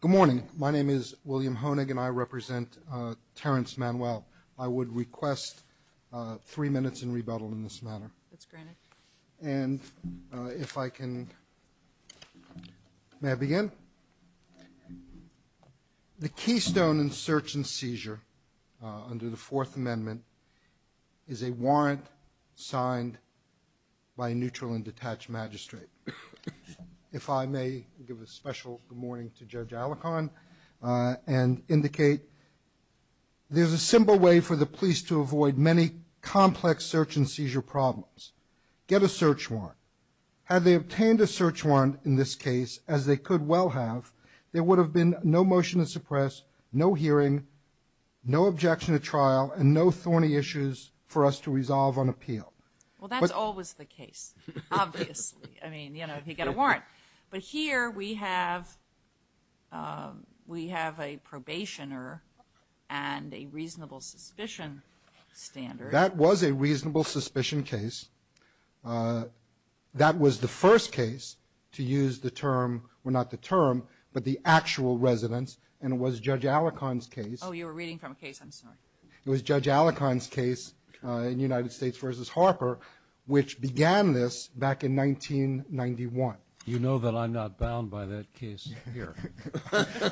Good morning. My name is William Honig and I represent Terrence Manuel. I would request three minutes in rebuttal in this matter. That's granted. And if I can, may I begin? The keystone in search and seizure under the Fourth Amendment is a warrant signed by a neutral and detached magistrate. If I may give a special good morning to Judge Alicorn and indicate there's a simple way for the police to avoid many complex search and seizure problems. Get a search warrant. Had they obtained a search warrant in this case, as they could well have, there would have been no motion to suppress, no hearing, no objection to trial, and no thorny issues for us to resolve on appeal. Well, that's always the case, obviously. I mean, you know, if you get a warrant. But here we have, we have a probationer and a reasonable suspicion standard. That was a reasonable suspicion case. That was the first case to use the term, well, not the term, but the actual residence. And it was Judge Alicorn's case. Oh, you were reading from a case. I'm sorry. It was Judge Alicorn's case in United States v. Harper, which began this back in 1991. You know that I'm not bound by that case here.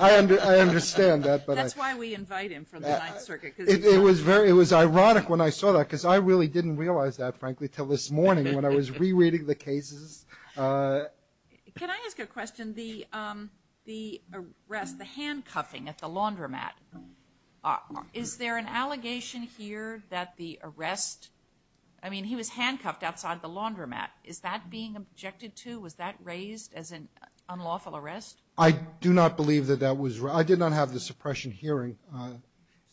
I understand that, but I... That's why we invite him from the Ninth Circuit, because he's... It was very, it was ironic when I saw that, because I really didn't realize that, frankly, till this morning when I was rereading the cases. Can I ask a question? The arrest, the handcuffing at the laundromat, is there an allegation here that the arrest, I mean, he was handcuffed outside the laundromat. Is that being objected to? Was that raised as an unlawful arrest? I do not believe that that was... I did not have the suppression hearing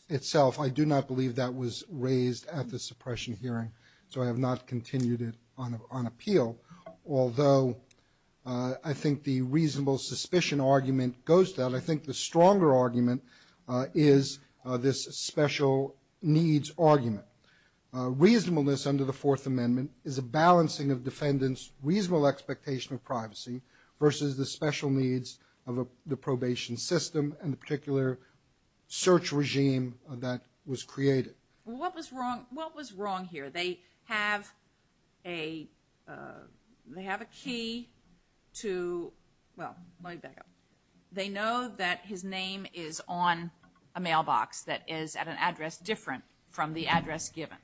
itself. I do not believe that was raised at the suppression hearing. So I have not continued it on appeal. Although I think the reasonable suspicion argument goes to that. I think the stronger argument is this special needs argument. Reasonableness under the Fourth Amendment is a balancing of defendants' reasonable expectation of privacy versus the special needs of the probation system and the particular search regime that was created. What was wrong here? They have a key to... Well, let me back up. They know that his name is on a mailbox that is at an address different from the address given.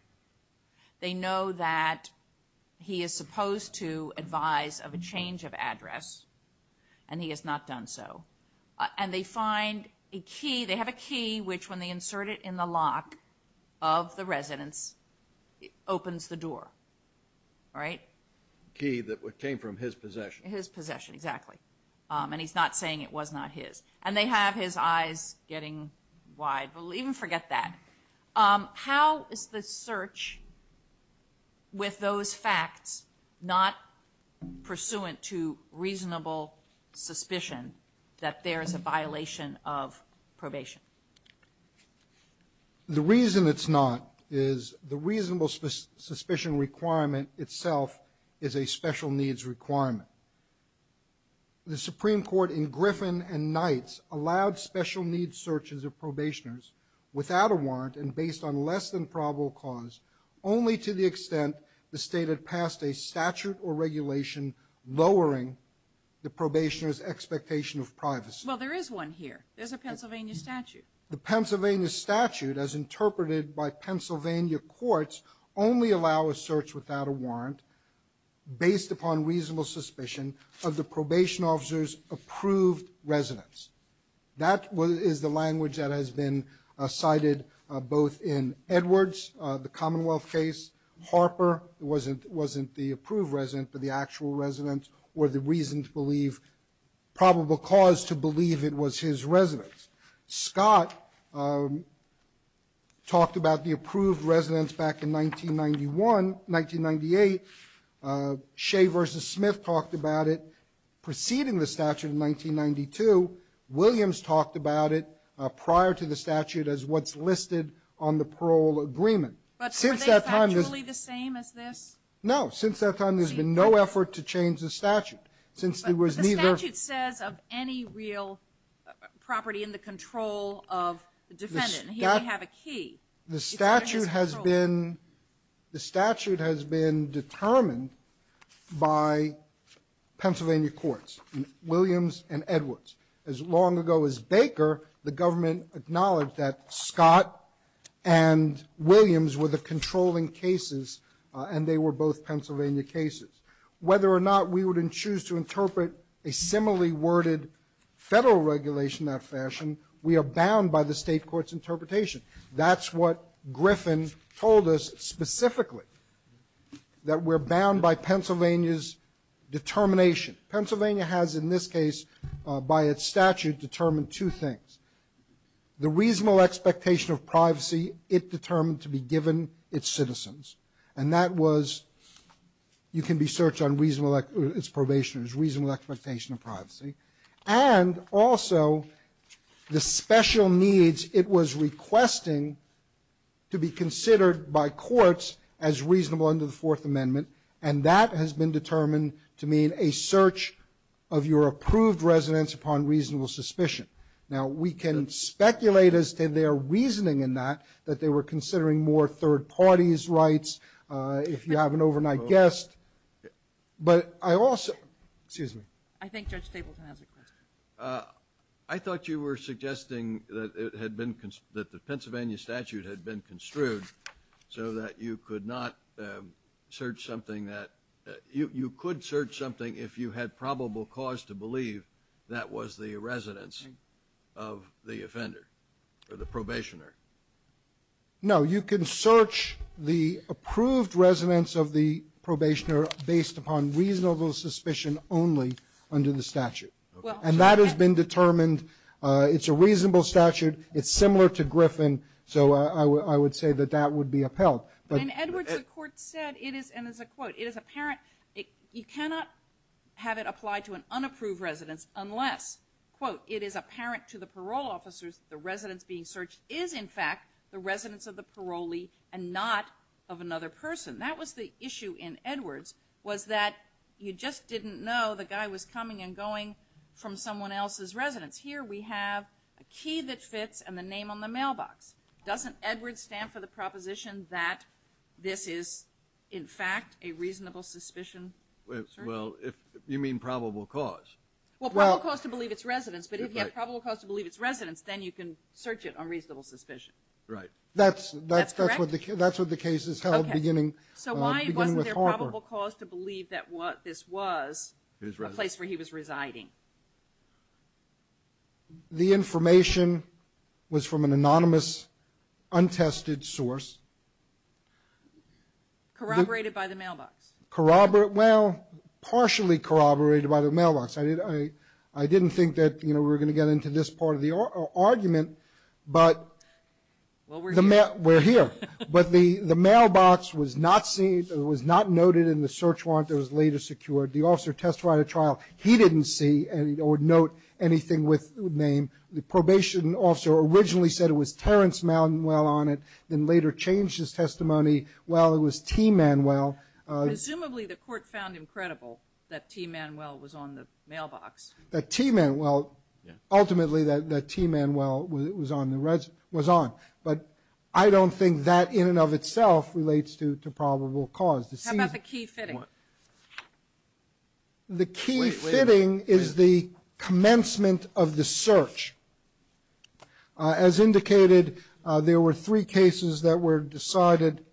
They know that he is supposed to advise of a change of address, and he has not done so. And they find a key, they have a key, which when they insert it in the lock of the residence, it opens the door, right? A key that came from his possession. His possession, exactly. And he's not saying it was not his. And they have his eyes getting wide. We'll even forget that. How is the search with those facts not pursuant to reasonable suspicion? That there is a violation of probation. The reason it's not is the reasonable suspicion requirement itself is a special needs requirement. The Supreme Court in Griffin and Knights allowed special needs searches of probationers without a warrant and based on less than probable cause, only to the extent the state had passed a statute or regulation lowering the probationer's expectation of privacy. Well, there is one here. There's a Pennsylvania statute. The Pennsylvania statute, as interpreted by Pennsylvania courts, only allow a search without a warrant based upon reasonable suspicion of the probation officer's approved residence. That is the language that has been cited both in Edwards, the Commonwealth case, Harper, wasn't the approved resident, but the actual resident, or the reason to believe, probable cause to believe it was his residence. Scott talked about the approved residence back in 1991, 1998. Shea v. Smith talked about it preceding the statute in 1992. Williams talked about it prior to the statute as what's listed on the parole agreement. But since that time, there's been no effort to change the statute since there was neither. The statute says of any real property in the control of the defendant, and here we have a key. The statute has been determined by Pennsylvania courts, Williams and Edwards. As long ago as Baker, the government acknowledged that Scott and Williams were the controlling cases, and they were both Pennsylvania cases. Whether or not we would choose to interpret a similarly worded federal regulation in that fashion, we are bound by the state court's interpretation. That's what Griffin told us specifically, that we're bound by Pennsylvania's determination. Pennsylvania has, in this case, by its statute, determined two things. The reasonable expectation of privacy it determined to be given its citizens. And that was, you can be searched on its probationers, reasonable expectation of privacy. And also, the special needs it was requesting to be considered by courts as reasonable under the Fourth Amendment. And that has been determined to mean a search of your approved residence upon reasonable suspicion. Now, we can speculate as to their reasoning in that, that they were considering more third parties' rights, if you have an overnight guest. But I also, excuse me. I think Judge Stapleton has a question. I thought you were suggesting that it had been, that the Pennsylvania statute had been construed so that you could not search something that, you could search something if you had probable cause to believe that was the residence of the offender or the probationer. No, you can search the approved residence of the probationer based upon reasonable suspicion only under the statute. Okay. And that has been determined. It's a reasonable statute. It's similar to Griffin. So I would say that that would be upheld. And Edwards, the court said, and it's a quote, it is apparent, you cannot have it applied to an unapproved residence unless, quote, it is apparent to the parole officers the residence being searched is, in fact, the residence of the parolee and not of another person. That was the issue in Edwards, was that you just didn't know the guy was coming and going from someone else's residence. Here we have a key that fits and the name on the mailbox. Doesn't Edwards stand for the proposition that this is, in fact, a reasonable suspicion? Well, if you mean probable cause. Well, probable cause to believe it's residence. But if you have probable cause to believe it's residence, then you can search it on reasonable suspicion. Right. That's what the case is held beginning with Harper. So why wasn't there probable cause to believe that this was a place where he was residing? The information was from an anonymous, untested source. Corroborated by the mailbox. Corroborate, well, partially corroborated by the mailbox. I didn't think that, you know, we were going to get into this part of the argument. But we're here. But the mailbox was not seen, was not noted in the search warrant that was later secured. The officer testified at trial. He didn't see or note anything with name. The probation officer originally said it was Terrence Manuel on it, then later changed his testimony. Well, it was T. Manuel. Presumably, the court found him credible that T. Manuel was on the mailbox. That T. Manuel, ultimately, that T. Manuel was on. But I don't think that in and of itself relates to probable cause. How about the key fitting? The key fitting is the commencement of the search. As indicated, there were three cases that were decided.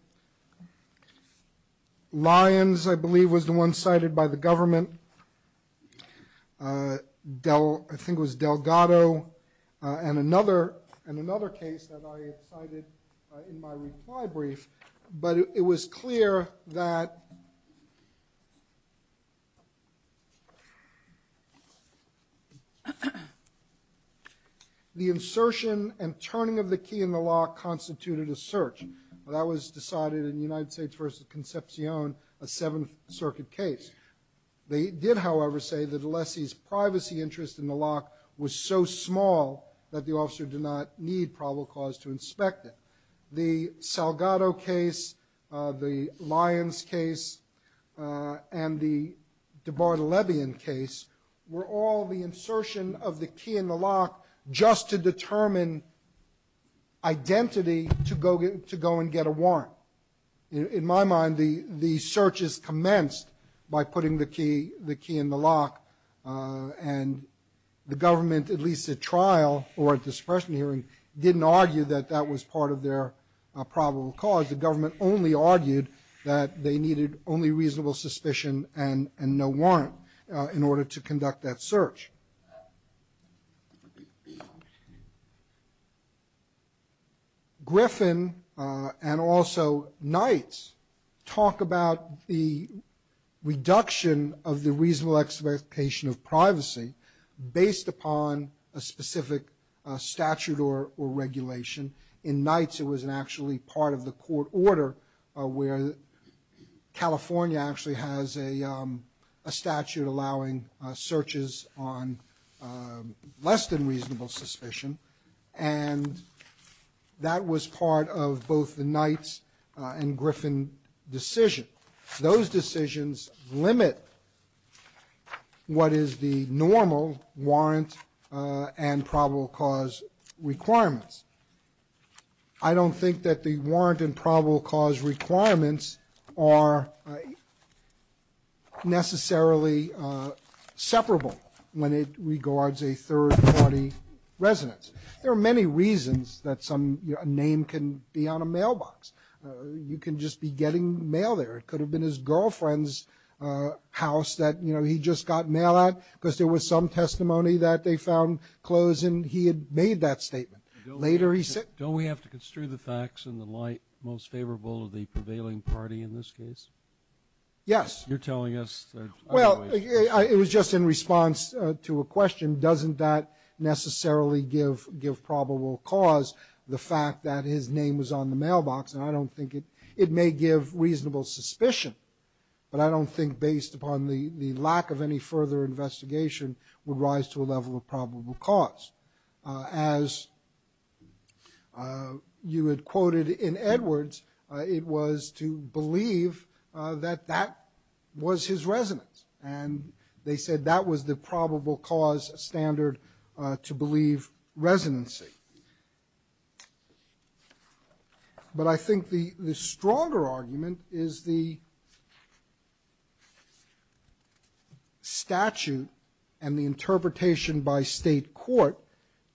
Lyons, I believe, was the one cited by the government. I think it was Delgado and another case that I cited in my reply brief. But it was clear that the insertion and turning of the key in the lock constituted a search. That was decided in United States v. Concepcion, a Seventh Circuit case. They did, however, say that Alessi's privacy interest in the lock was so small that the officer did not need probable cause to inspect it. The Delgado case, the Lyons case, and the DeBartolomew case were all the insertion of the key in the lock just to determine identity to go and get a warrant. In my mind, the search is commenced by putting the key in the lock. And the government, at least at trial or at discretionary hearing, didn't argue that that was part of their probable cause. The government only argued that they needed only reasonable suspicion and no warrant in order to conduct that search. Griffin and also Knights talk about the reduction of the reasonable expectation of privacy based upon a specific statute or regulation. In Knights, it was actually part of the court order where California actually has a statute allowing searches on less than reasonable suspicion. And that was part of both the Knights and Griffin decision. Those decisions limit what is the normal warrant and probable cause requirements. I don't think that the warrant and probable cause requirements are necessarily separable when it regards a third party residence. There are many reasons that some name can be on a mailbox. You can just be getting mail there. It could have been his girlfriend's house that he just got mail at because there was some testimony that they found clothes and he had made that statement. Later he said- Don't we have to construe the facts in the light most favorable of the prevailing party in this case? Yes. You're telling us- Well, it was just in response to a question. Doesn't that necessarily give probable cause the fact that his name was on the mailbox? It may give reasonable suspicion, but I don't think based upon the lack of any further investigation would rise to a level of probable cause. As you had quoted in Edwards, it was to believe that that was his residence. And they said that was the probable cause standard to believe residency. But I think the stronger argument is the statute and the interpretation by state court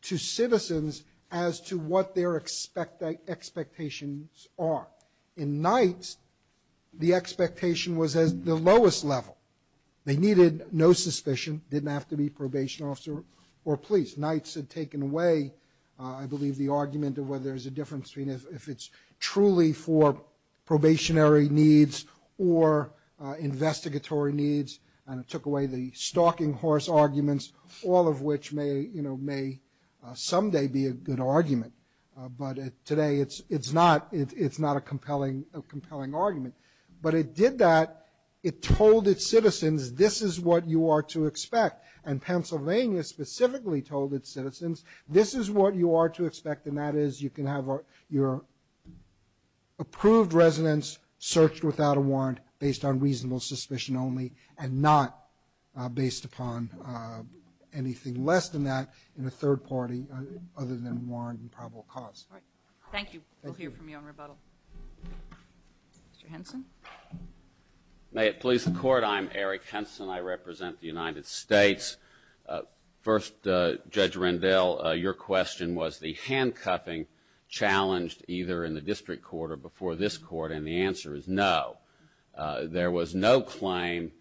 to citizens as to what their expectations are. In Knight's, the expectation was at the lowest level. They needed no suspicion, didn't have to be probation officer or police. Knight's had taken away, I believe, the argument of whether there's a difference between if it's truly for probationary needs or investigatory needs. And it took away the stalking horse arguments, all of which may someday be a good argument. But today it's not a compelling argument. But it did that. It told its citizens, this is what you are to expect. And Pennsylvania specifically told its citizens, this is what you are to expect. And that is you can have your approved residence searched without a warrant based on reasonable suspicion only and not based upon anything less than that in a third party other than warrant and probable cause. All right. Thank you. We'll hear from you on rebuttal. Mr. Henson. May it please the Court. I'm Eric Henson. I represent the United States. First, Judge Rendell, your question was the handcuffing challenged either in the district court or before this court. And the answer is no. There was no claim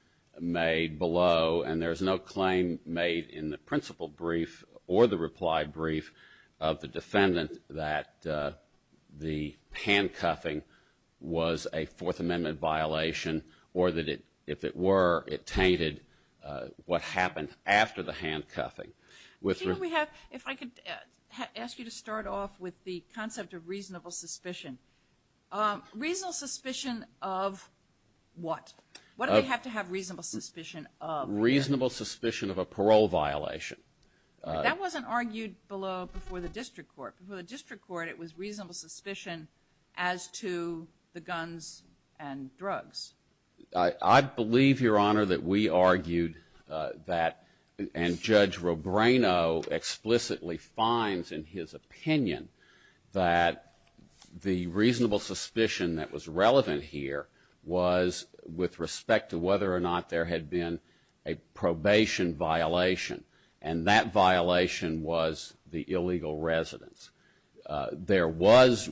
made below. And there's no claim made in the principal brief or the reply brief of the defendant that the handcuffing was a Fourth Amendment violation or that it, if it were, it implicated what happened after the handcuffing. If I could ask you to start off with the concept of reasonable suspicion. Reasonable suspicion of what? What do we have to have reasonable suspicion of? Reasonable suspicion of a parole violation. That wasn't argued below before the district court. Before the district court, it was reasonable suspicion as to the guns and drugs. I believe, Your Honor, that we argued that, and Judge Robreno explicitly finds in his opinion that the reasonable suspicion that was relevant here was with respect to whether or not there had been a probation violation. And that violation was the illegal residence. There was,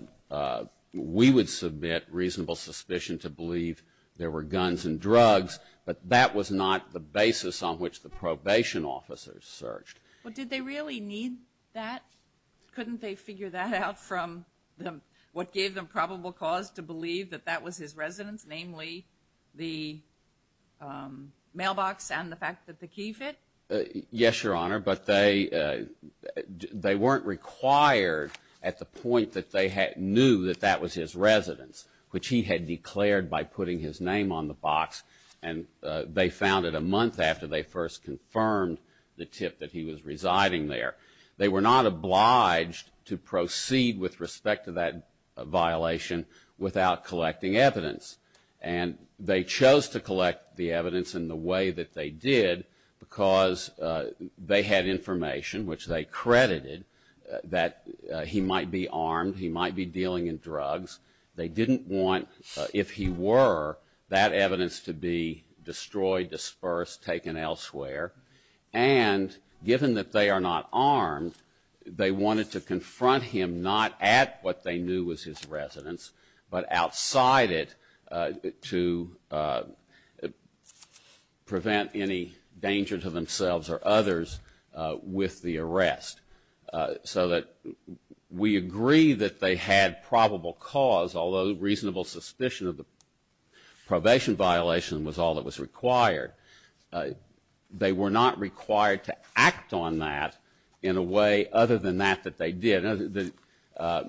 we would submit reasonable suspicion to believe there were guns and drugs, but that was not the basis on which the probation officers searched. Well, did they really need that? Couldn't they figure that out from what gave them probable cause to believe that that was his residence, namely the mailbox and the fact that the key fit? Yes, Your Honor, but they weren't required at the point that they knew that that was his residence, which he had declared by putting his name on the box. And they found it a month after they first confirmed the tip that he was residing there. They were not obliged to proceed with respect to that violation without collecting evidence. And they chose to collect the evidence in the way that they did because they had information which they credited that he might be armed, he might be dealing in drugs. They didn't want, if he were, that evidence to be destroyed, dispersed, taken elsewhere. And given that they are not armed, they wanted to confront him not at what they knew was his residence, but outside it to prevent any danger to themselves or others with the arrest so that we agree that they had probable cause, although reasonable suspicion of the probation violation was all that was required. They were not required to act on that in a way other than that that they did. The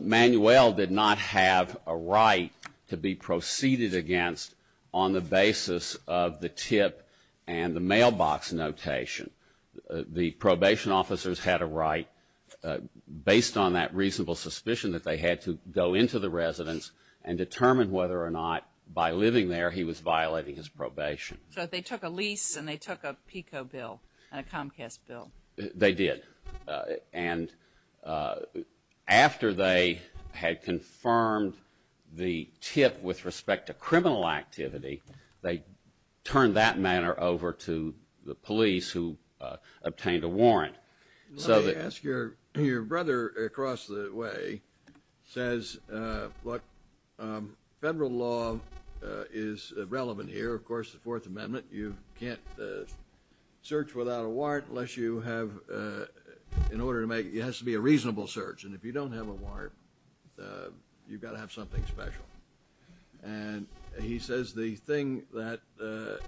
Manuel did not have a right to be proceeded against on the basis of the tip and the mailbox notation. The probation officers had a right based on that reasonable suspicion that they had to go into the residence and determine whether or not by living there he was violating his probation. So they took a lease and they took a PICO bill and a Comcast bill. They did. And after they had confirmed the tip with respect to criminal activity, they turned that matter over to the police who obtained a warrant. Let me ask you, your brother across the way says, look, federal law is relevant here. Of course, the Fourth Amendment, you can't search without a warrant unless you have in order to make it has to be a reasonable search. And if you don't have a warrant, you've got to have something special. And he says the thing that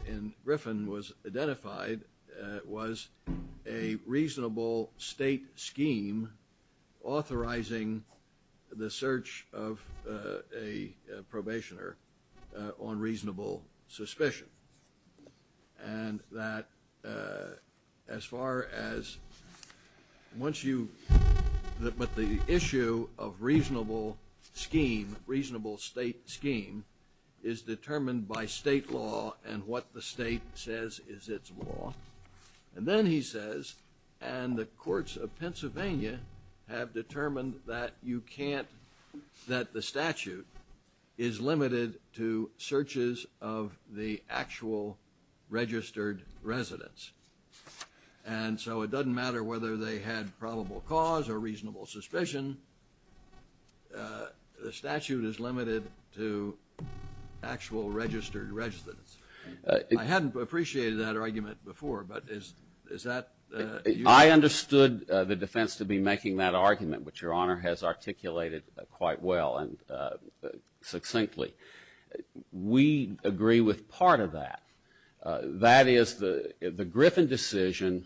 in Griffin was identified was a reasonable state scheme authorizing the search of a probationer on reasonable suspicion. And that as far as once you look at the issue of reasonable scheme, reasonable state scheme is determined by state law and what the state says is its law. And then he says, and the courts of Pennsylvania have determined that you can't that the statute is limited to searches of the actual registered residents. And so it doesn't matter whether they had probable cause or reasonable suspicion. The statute is limited to actual registered residents. I hadn't appreciated that argument before, but is that. I understood the defense to be making that argument, which your honor has articulated quite well and succinctly. We agree with part of that. That is the Griffin decision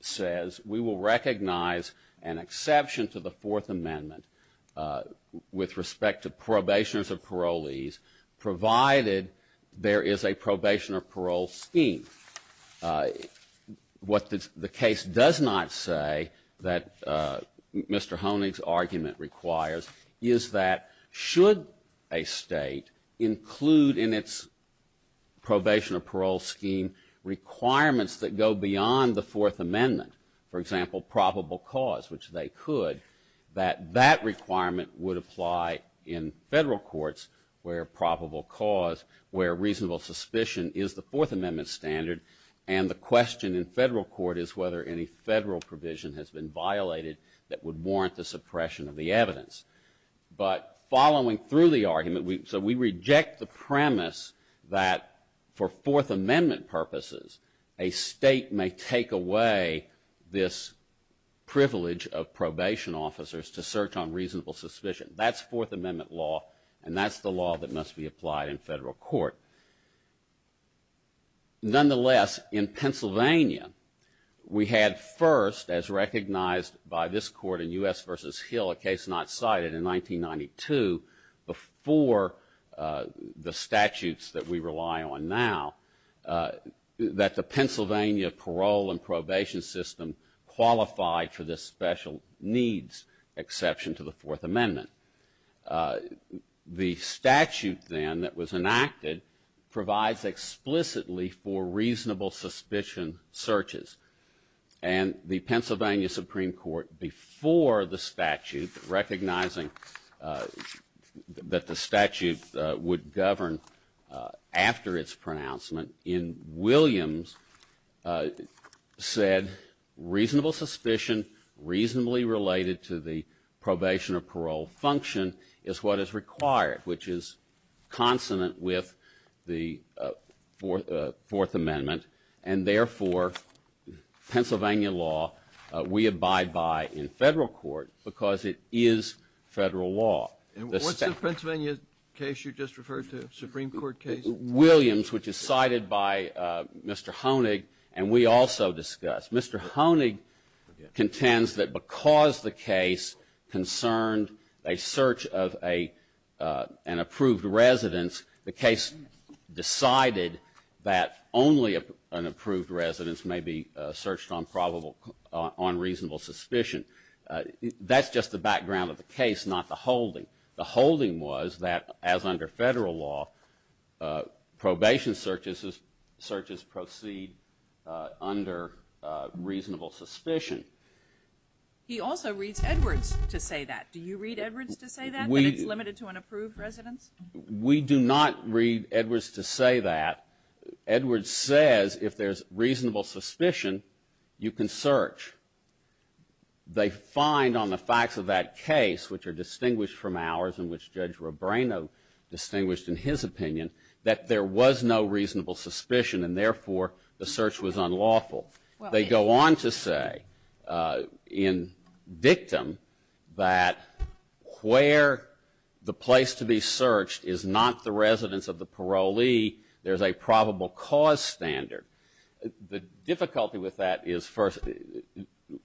says we will recognize an exception to the Fourth Amendment with respect to probationers or parolees, provided there is a probation or parole scheme. And what the case does not say that Mr. Honig's argument requires is that should a state include in its probation or parole scheme requirements that go beyond the Fourth Amendment, for example, probable cause, which they could, that that requirement would apply in federal courts where probable cause, where reasonable suspicion is the Fourth Amendment standard. And the question in federal court is whether any federal provision has been violated that would warrant the suppression of the evidence. But following through the argument, so we reject the premise that for Fourth Amendment purposes, a state may take away this privilege of probation officers to search on reasonable suspicion. That's Fourth Amendment law. And that's the law that must be applied in federal court. Nonetheless, in Pennsylvania, we had first, as recognized by this court in U.S. versus Hill, a case not cited in 1992 before the statutes that we rely on now, that the Pennsylvania parole and probation system qualified for this special needs exception to the Fourth Amendment. The statute then that was enacted provides explicitly for reasonable suspicion searches. And the Pennsylvania Supreme Court, before the statute, recognizing that the statute would govern after its pronouncement, in Williams said reasonable suspicion, reasonably related to the probation or parole function, is what is required, which is consonant with the Fourth Amendment. And therefore, Pennsylvania law, we abide by in federal court because it is federal law. And what's the Pennsylvania case you just referred to, Supreme Court case? Williams, which is cited by Mr. Honig, and we also discussed. Mr. Honig contends that because the case concerned a search of an approved residence, the case decided that only an approved residence may be searched on reasonable suspicion. That's just the background of the case, not the holding. The holding was that as under federal law, probation searches proceed under reasonable suspicion. He also reads Edwards to say that. Do you read Edwards to say that, that it's limited to an approved residence? We do not read Edwards to say that. Edwards says if there's reasonable suspicion, you can search. They find on the facts of that case, which are distinguished from ours, and which Judge Robreno distinguished in his opinion, that there was no reasonable suspicion and therefore the search was unlawful. They go on to say in dictum that where the place to be searched is not the residence of the parolee, there's a probable cause standard. The difficulty with that is first,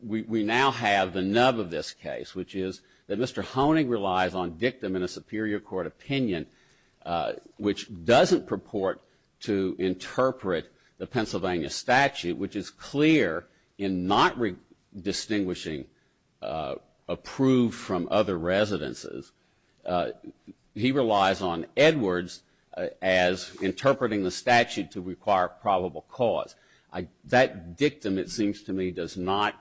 we now have the nub of this case, which is that Mr. Honig relies on dictum in a superior court opinion, which doesn't purport to interpret the Pennsylvania statute, which is clear in not distinguishing approved from other residences. He relies on Edwards as interpreting the statute to require probable cause. That dictum, it seems to me, does not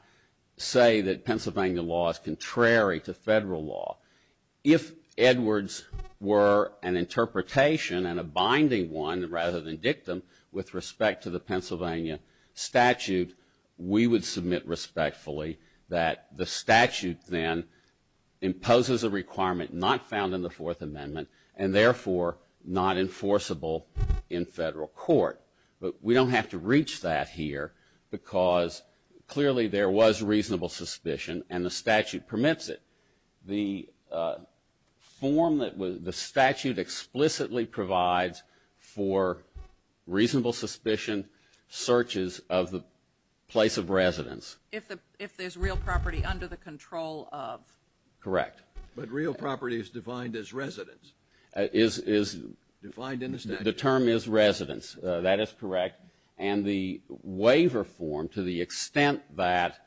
say that Pennsylvania law is contrary to federal law. If Edwards were an interpretation and a binding one rather than dictum with respect to the Pennsylvania statute, we would submit respectfully that the statute then not found in the Fourth Amendment and therefore not enforceable in federal court. We don't have to reach that here because clearly there was reasonable suspicion and the statute permits it. The statute explicitly provides for reasonable suspicion searches of the place of residence. If there's real property under the control of? Correct. But real property is defined as residence. Is defined in the statute. The term is residence. That is correct. And the waiver form, to the extent that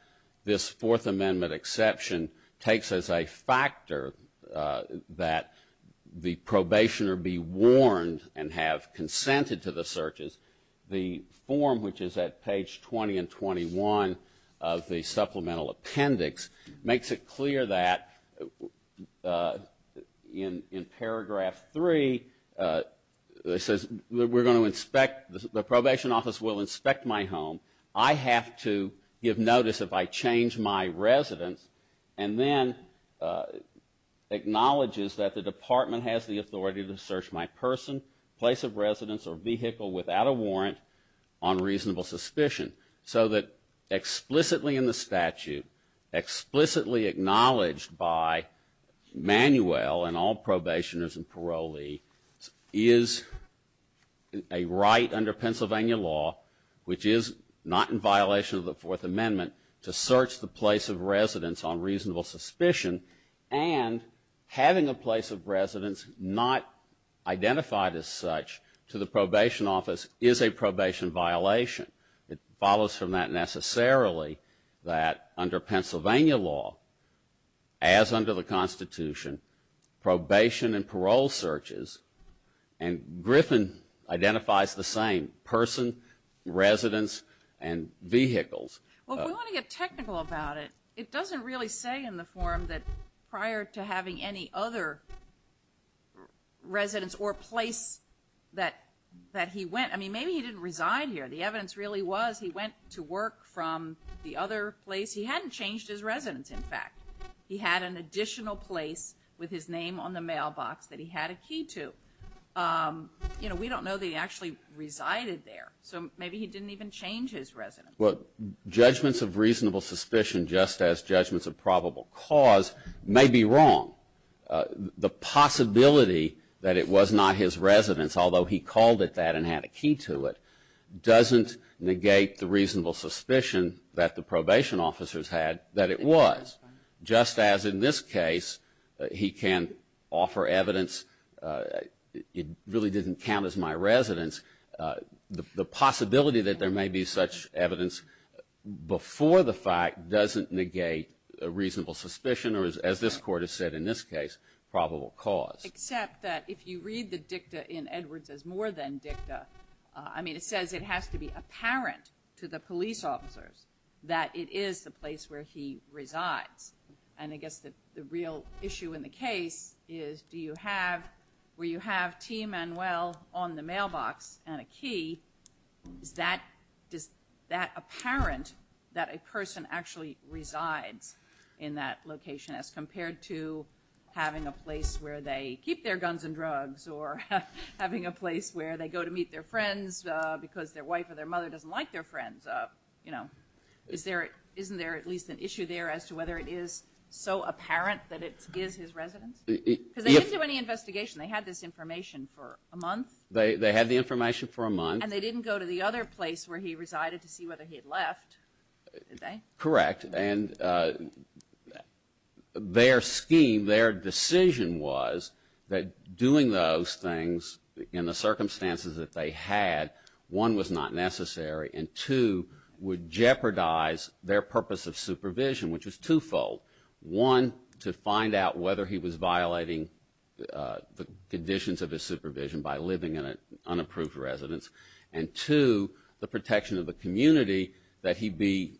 this Fourth Amendment exception takes as a factor that the probationer be warned and have consented to the searches, the form, which is at page 20 and 21 of the supplemental appendix, makes it clear that in paragraph 3, it says we're going to inspect, the probation office will inspect my home. I have to give notice if I change my residence and then acknowledges that the department has the authority to search my person, place of residence, or vehicle without a warrant on reasonable suspicion. So that explicitly in the statute, explicitly acknowledged by Manuel and all probationers and parolees is a right under Pennsylvania law, which is not in violation of the Fourth Amendment, to search the place of residence on reasonable suspicion and having a place of residence not identified as such to the probation office is a probation violation. It follows from that necessarily that under Pennsylvania law, as under the Constitution, probation and parole searches, and Griffin identifies the same person, residence, and vehicles. Well, we want to get technical about it. It doesn't really say in the form that prior to having any other residence or place that he went, I mean, maybe he didn't reside here. The evidence really was he went to work from the other place. He hadn't changed his residence, in fact. He had an additional place with his name on the mailbox that he had a key to. You know, we don't know that he actually resided there. So maybe he didn't even change his residence. Well, judgments of reasonable suspicion, just as judgments of probable cause, may be wrong. The possibility that it was not his residence, although he called it that and had a key to it, doesn't negate the reasonable suspicion that the probation officers had that it was. Just as in this case, he can offer evidence, it really didn't count as my residence, the possibility that there may be such evidence before the fact doesn't negate a reasonable suspicion or, as this Court has said in this case, probable cause. Except that if you read the dicta in Edwards as more than dicta, I mean, it says it has to be apparent to the police officers that it is the place where he resides. And I guess the real issue in the case is do you have, where you have T. Manuel on the mailbox and a key, is that apparent that a person actually resides in that location as compared to having a place where they keep their guns and drugs or having a place where they go to meet their friends because their wife or their mother doesn't like their friends? Isn't there at least an issue there as to whether it is so apparent that it is his residence? Because they didn't do any investigation. They had this information for a month. They had the information for a month. And they didn't go to the other place where he resided to see whether he had left, did they? Correct. And their scheme, their decision was that doing those things in the circumstances that they had, one, was not necessary. And two, would jeopardize their purpose of supervision, which was twofold. One, to find out whether he was violating the conditions of his supervision by living in an unapproved residence. And two, the protection of the community that he be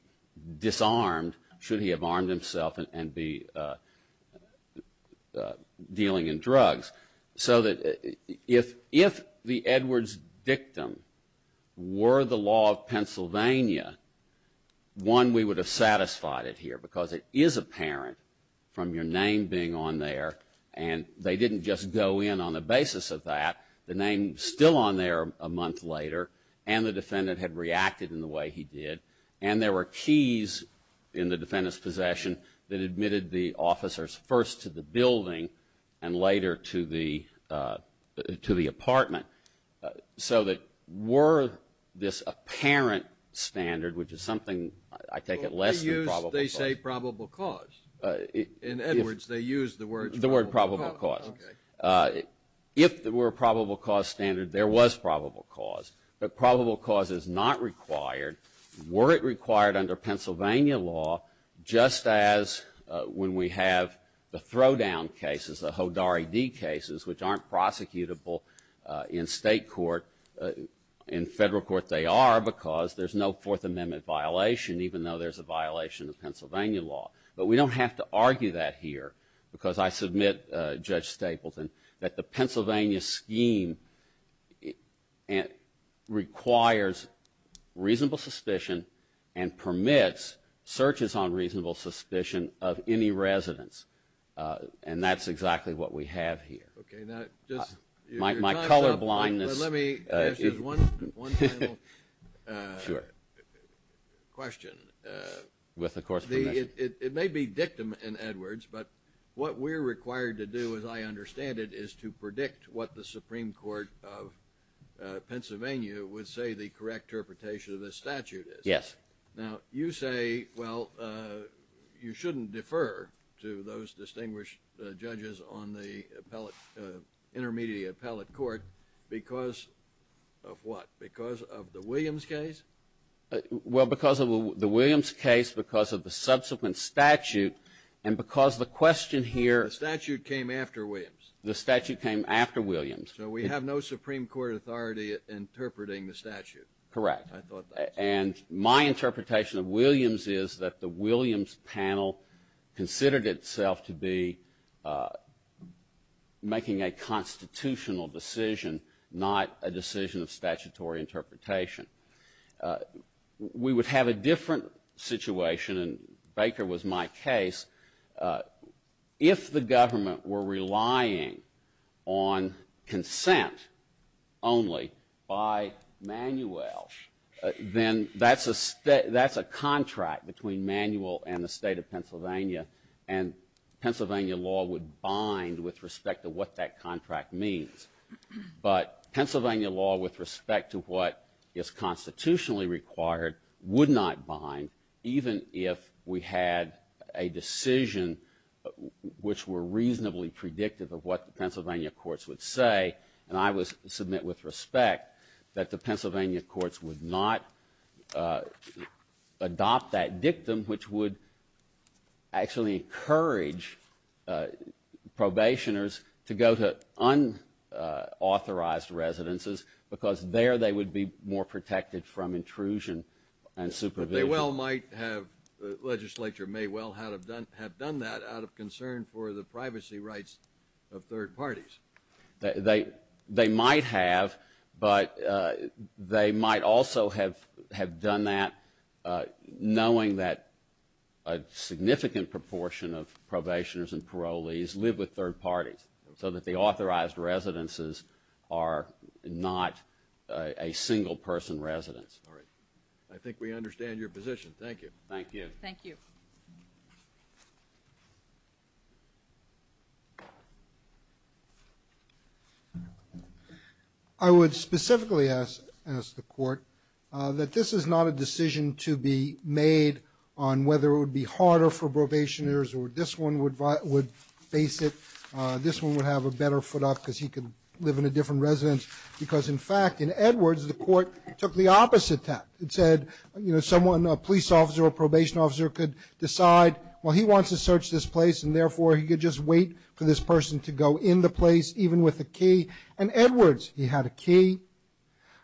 disarmed should he have armed himself and be dealing in drugs. So that if the Edwards dictum were the law of Pennsylvania, one, we would have satisfied it here because it is apparent from your name being on there. And they didn't just go in on the basis of that. The name still on there a month later. And the defendant had reacted in the way he did. And there were keys in the defendant's possession that admitted the officers first to the building and later to the apartment. So that were this apparent standard, which is something I take it less than probable cause. They say probable cause. In Edwards, they use the word probable cause. If there were a probable cause standard, there was probable cause. But probable cause is not required, were it required under Pennsylvania law, just as when we have the throwdown cases, the Hodari D cases, which aren't prosecutable in state court. In federal court, they are because there's no Fourth Amendment violation, even though there's a violation of Pennsylvania law. But we don't have to argue that here because I submit, Judge Stapleton, that the Pennsylvania scheme requires reasonable suspicion and permits searches on reasonable suspicion of any residents. And that's exactly what we have here. Okay. Now, just my color blindness. Let me ask you one final question. With, of course, permission. It may be dictum in Edwards, but what we're required to do, as I understand it, is to predict what the Supreme Court of Pennsylvania would say the correct interpretation of this statute is. Yes. Now, you say, well, you shouldn't defer to those distinguished judges on the intermediate appellate court because of what? Because of the Williams case? Well, because of the Williams case, because of the subsequent statute, and because the question here. The statute came after Williams. The statute came after Williams. So we have no Supreme Court authority interpreting the statute. Correct. I thought that. And my interpretation of Williams is that the Williams panel considered itself to be making a constitutional decision, not a decision of statutory interpretation. We would have a different situation, and Baker was my case. If the government were relying on consent only by Manuel, then that's a contract between Manuel and the state of Pennsylvania. And Pennsylvania law would bind with respect to what that contract means. But Pennsylvania law, with respect to what is constitutionally required, would not bind, even if we had a decision which were reasonably predictive of what the Pennsylvania courts would say. And I would submit with respect that the Pennsylvania courts would not adopt that dictum, which would actually encourage probationers to go to authorized residences, because there they would be more protected from intrusion and supervision. But they well might have – the legislature may well have done that out of concern for the privacy rights of third parties. They might have, but they might also have done that knowing that a significant proportion of are not a single-person residence. All right. I think we understand your position. Thank you. Thank you. Thank you. I would specifically ask the court that this is not a decision to be made on whether it would be harder for probationers, or this one would face it – this one would have a better foot up, because he could live in a different residence. Because, in fact, in Edwards, the court took the opposite tact. It said, you know, someone – a police officer or a probation officer could decide, well, he wants to search this place, and therefore he could just wait for this person to go in the place, even with a key. In Edwards, he had a key.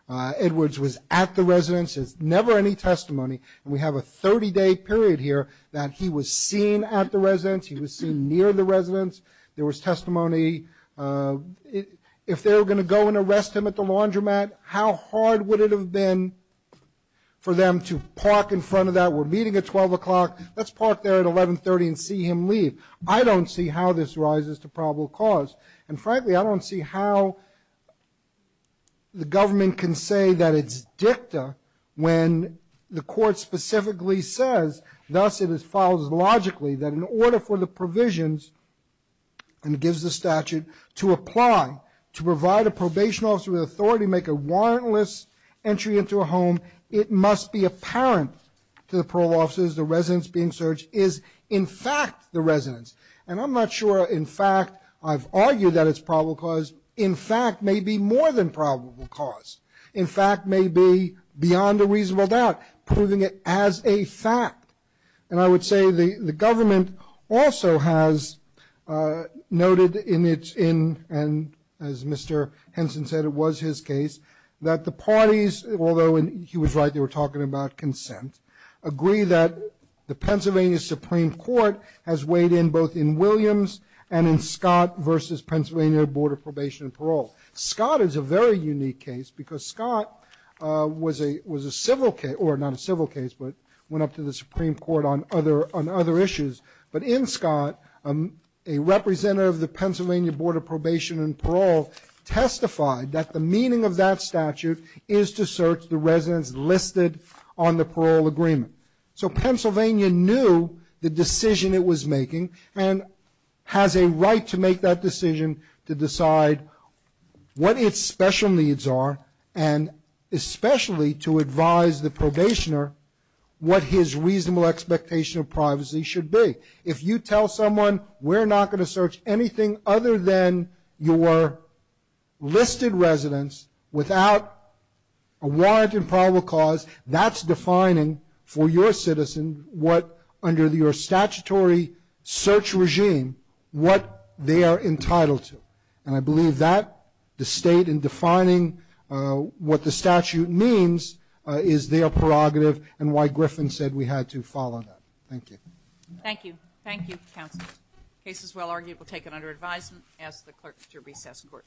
Edwards was at the residence. There's never any testimony. And we have a 30-day period here that he was seen at the residence. He was seen near the residence. There was testimony. If they were going to go and arrest him at the laundromat, how hard would it have been for them to park in front of that? We're meeting at 12 o'clock. Let's park there at 1130 and see him leave. I don't see how this rises to probable cause. And, frankly, I don't see how the government can say that it's dicta when the court specifically says, thus it follows logically, that in order for the provisions – and it gives the statute – to apply, to provide a probation officer with authority to make a warrantless entry into a home, it must be apparent to the parole officers the residence being searched is, in fact, the residence. And I'm not sure, in fact – I've argued that it's probable cause. In fact may be more than probable cause. In fact may be, beyond a reasonable doubt, proving it as a fact. And I would say the government also has noted in its – and as Mr. Henson said, it was his case – that the parties, although he was right, they were talking about consent, agree that the Pennsylvania Supreme Court has weighed in both in Williams and in Scott versus Pennsylvania Board of Probation and Parole. Scott is a very unique case because Scott was a civil case – or not a civil case, but went up to the Supreme Court on other issues. But in Scott, a representative of the Pennsylvania Board of Probation and Parole testified that the meaning of that statute is to search the residence listed on the parole agreement. So Pennsylvania knew the decision it was making and has a right to make that decision to decide what its special needs are and especially to advise the probationer what his reasonable expectation of privacy should be. If you tell someone we're not going to search anything other than your listed residence without a warrant in probable cause, that's defining for your citizen what – under your statutory search regime – what they are entitled to. And I believe that, the State in defining what the statute means, is their prerogative and why Griffin said we had to follow that. MS. GOTTLIEB. Thank you. Thank you, counsel. The case is well argued. We'll take it under advisement and ask the clerk to recess court. MR.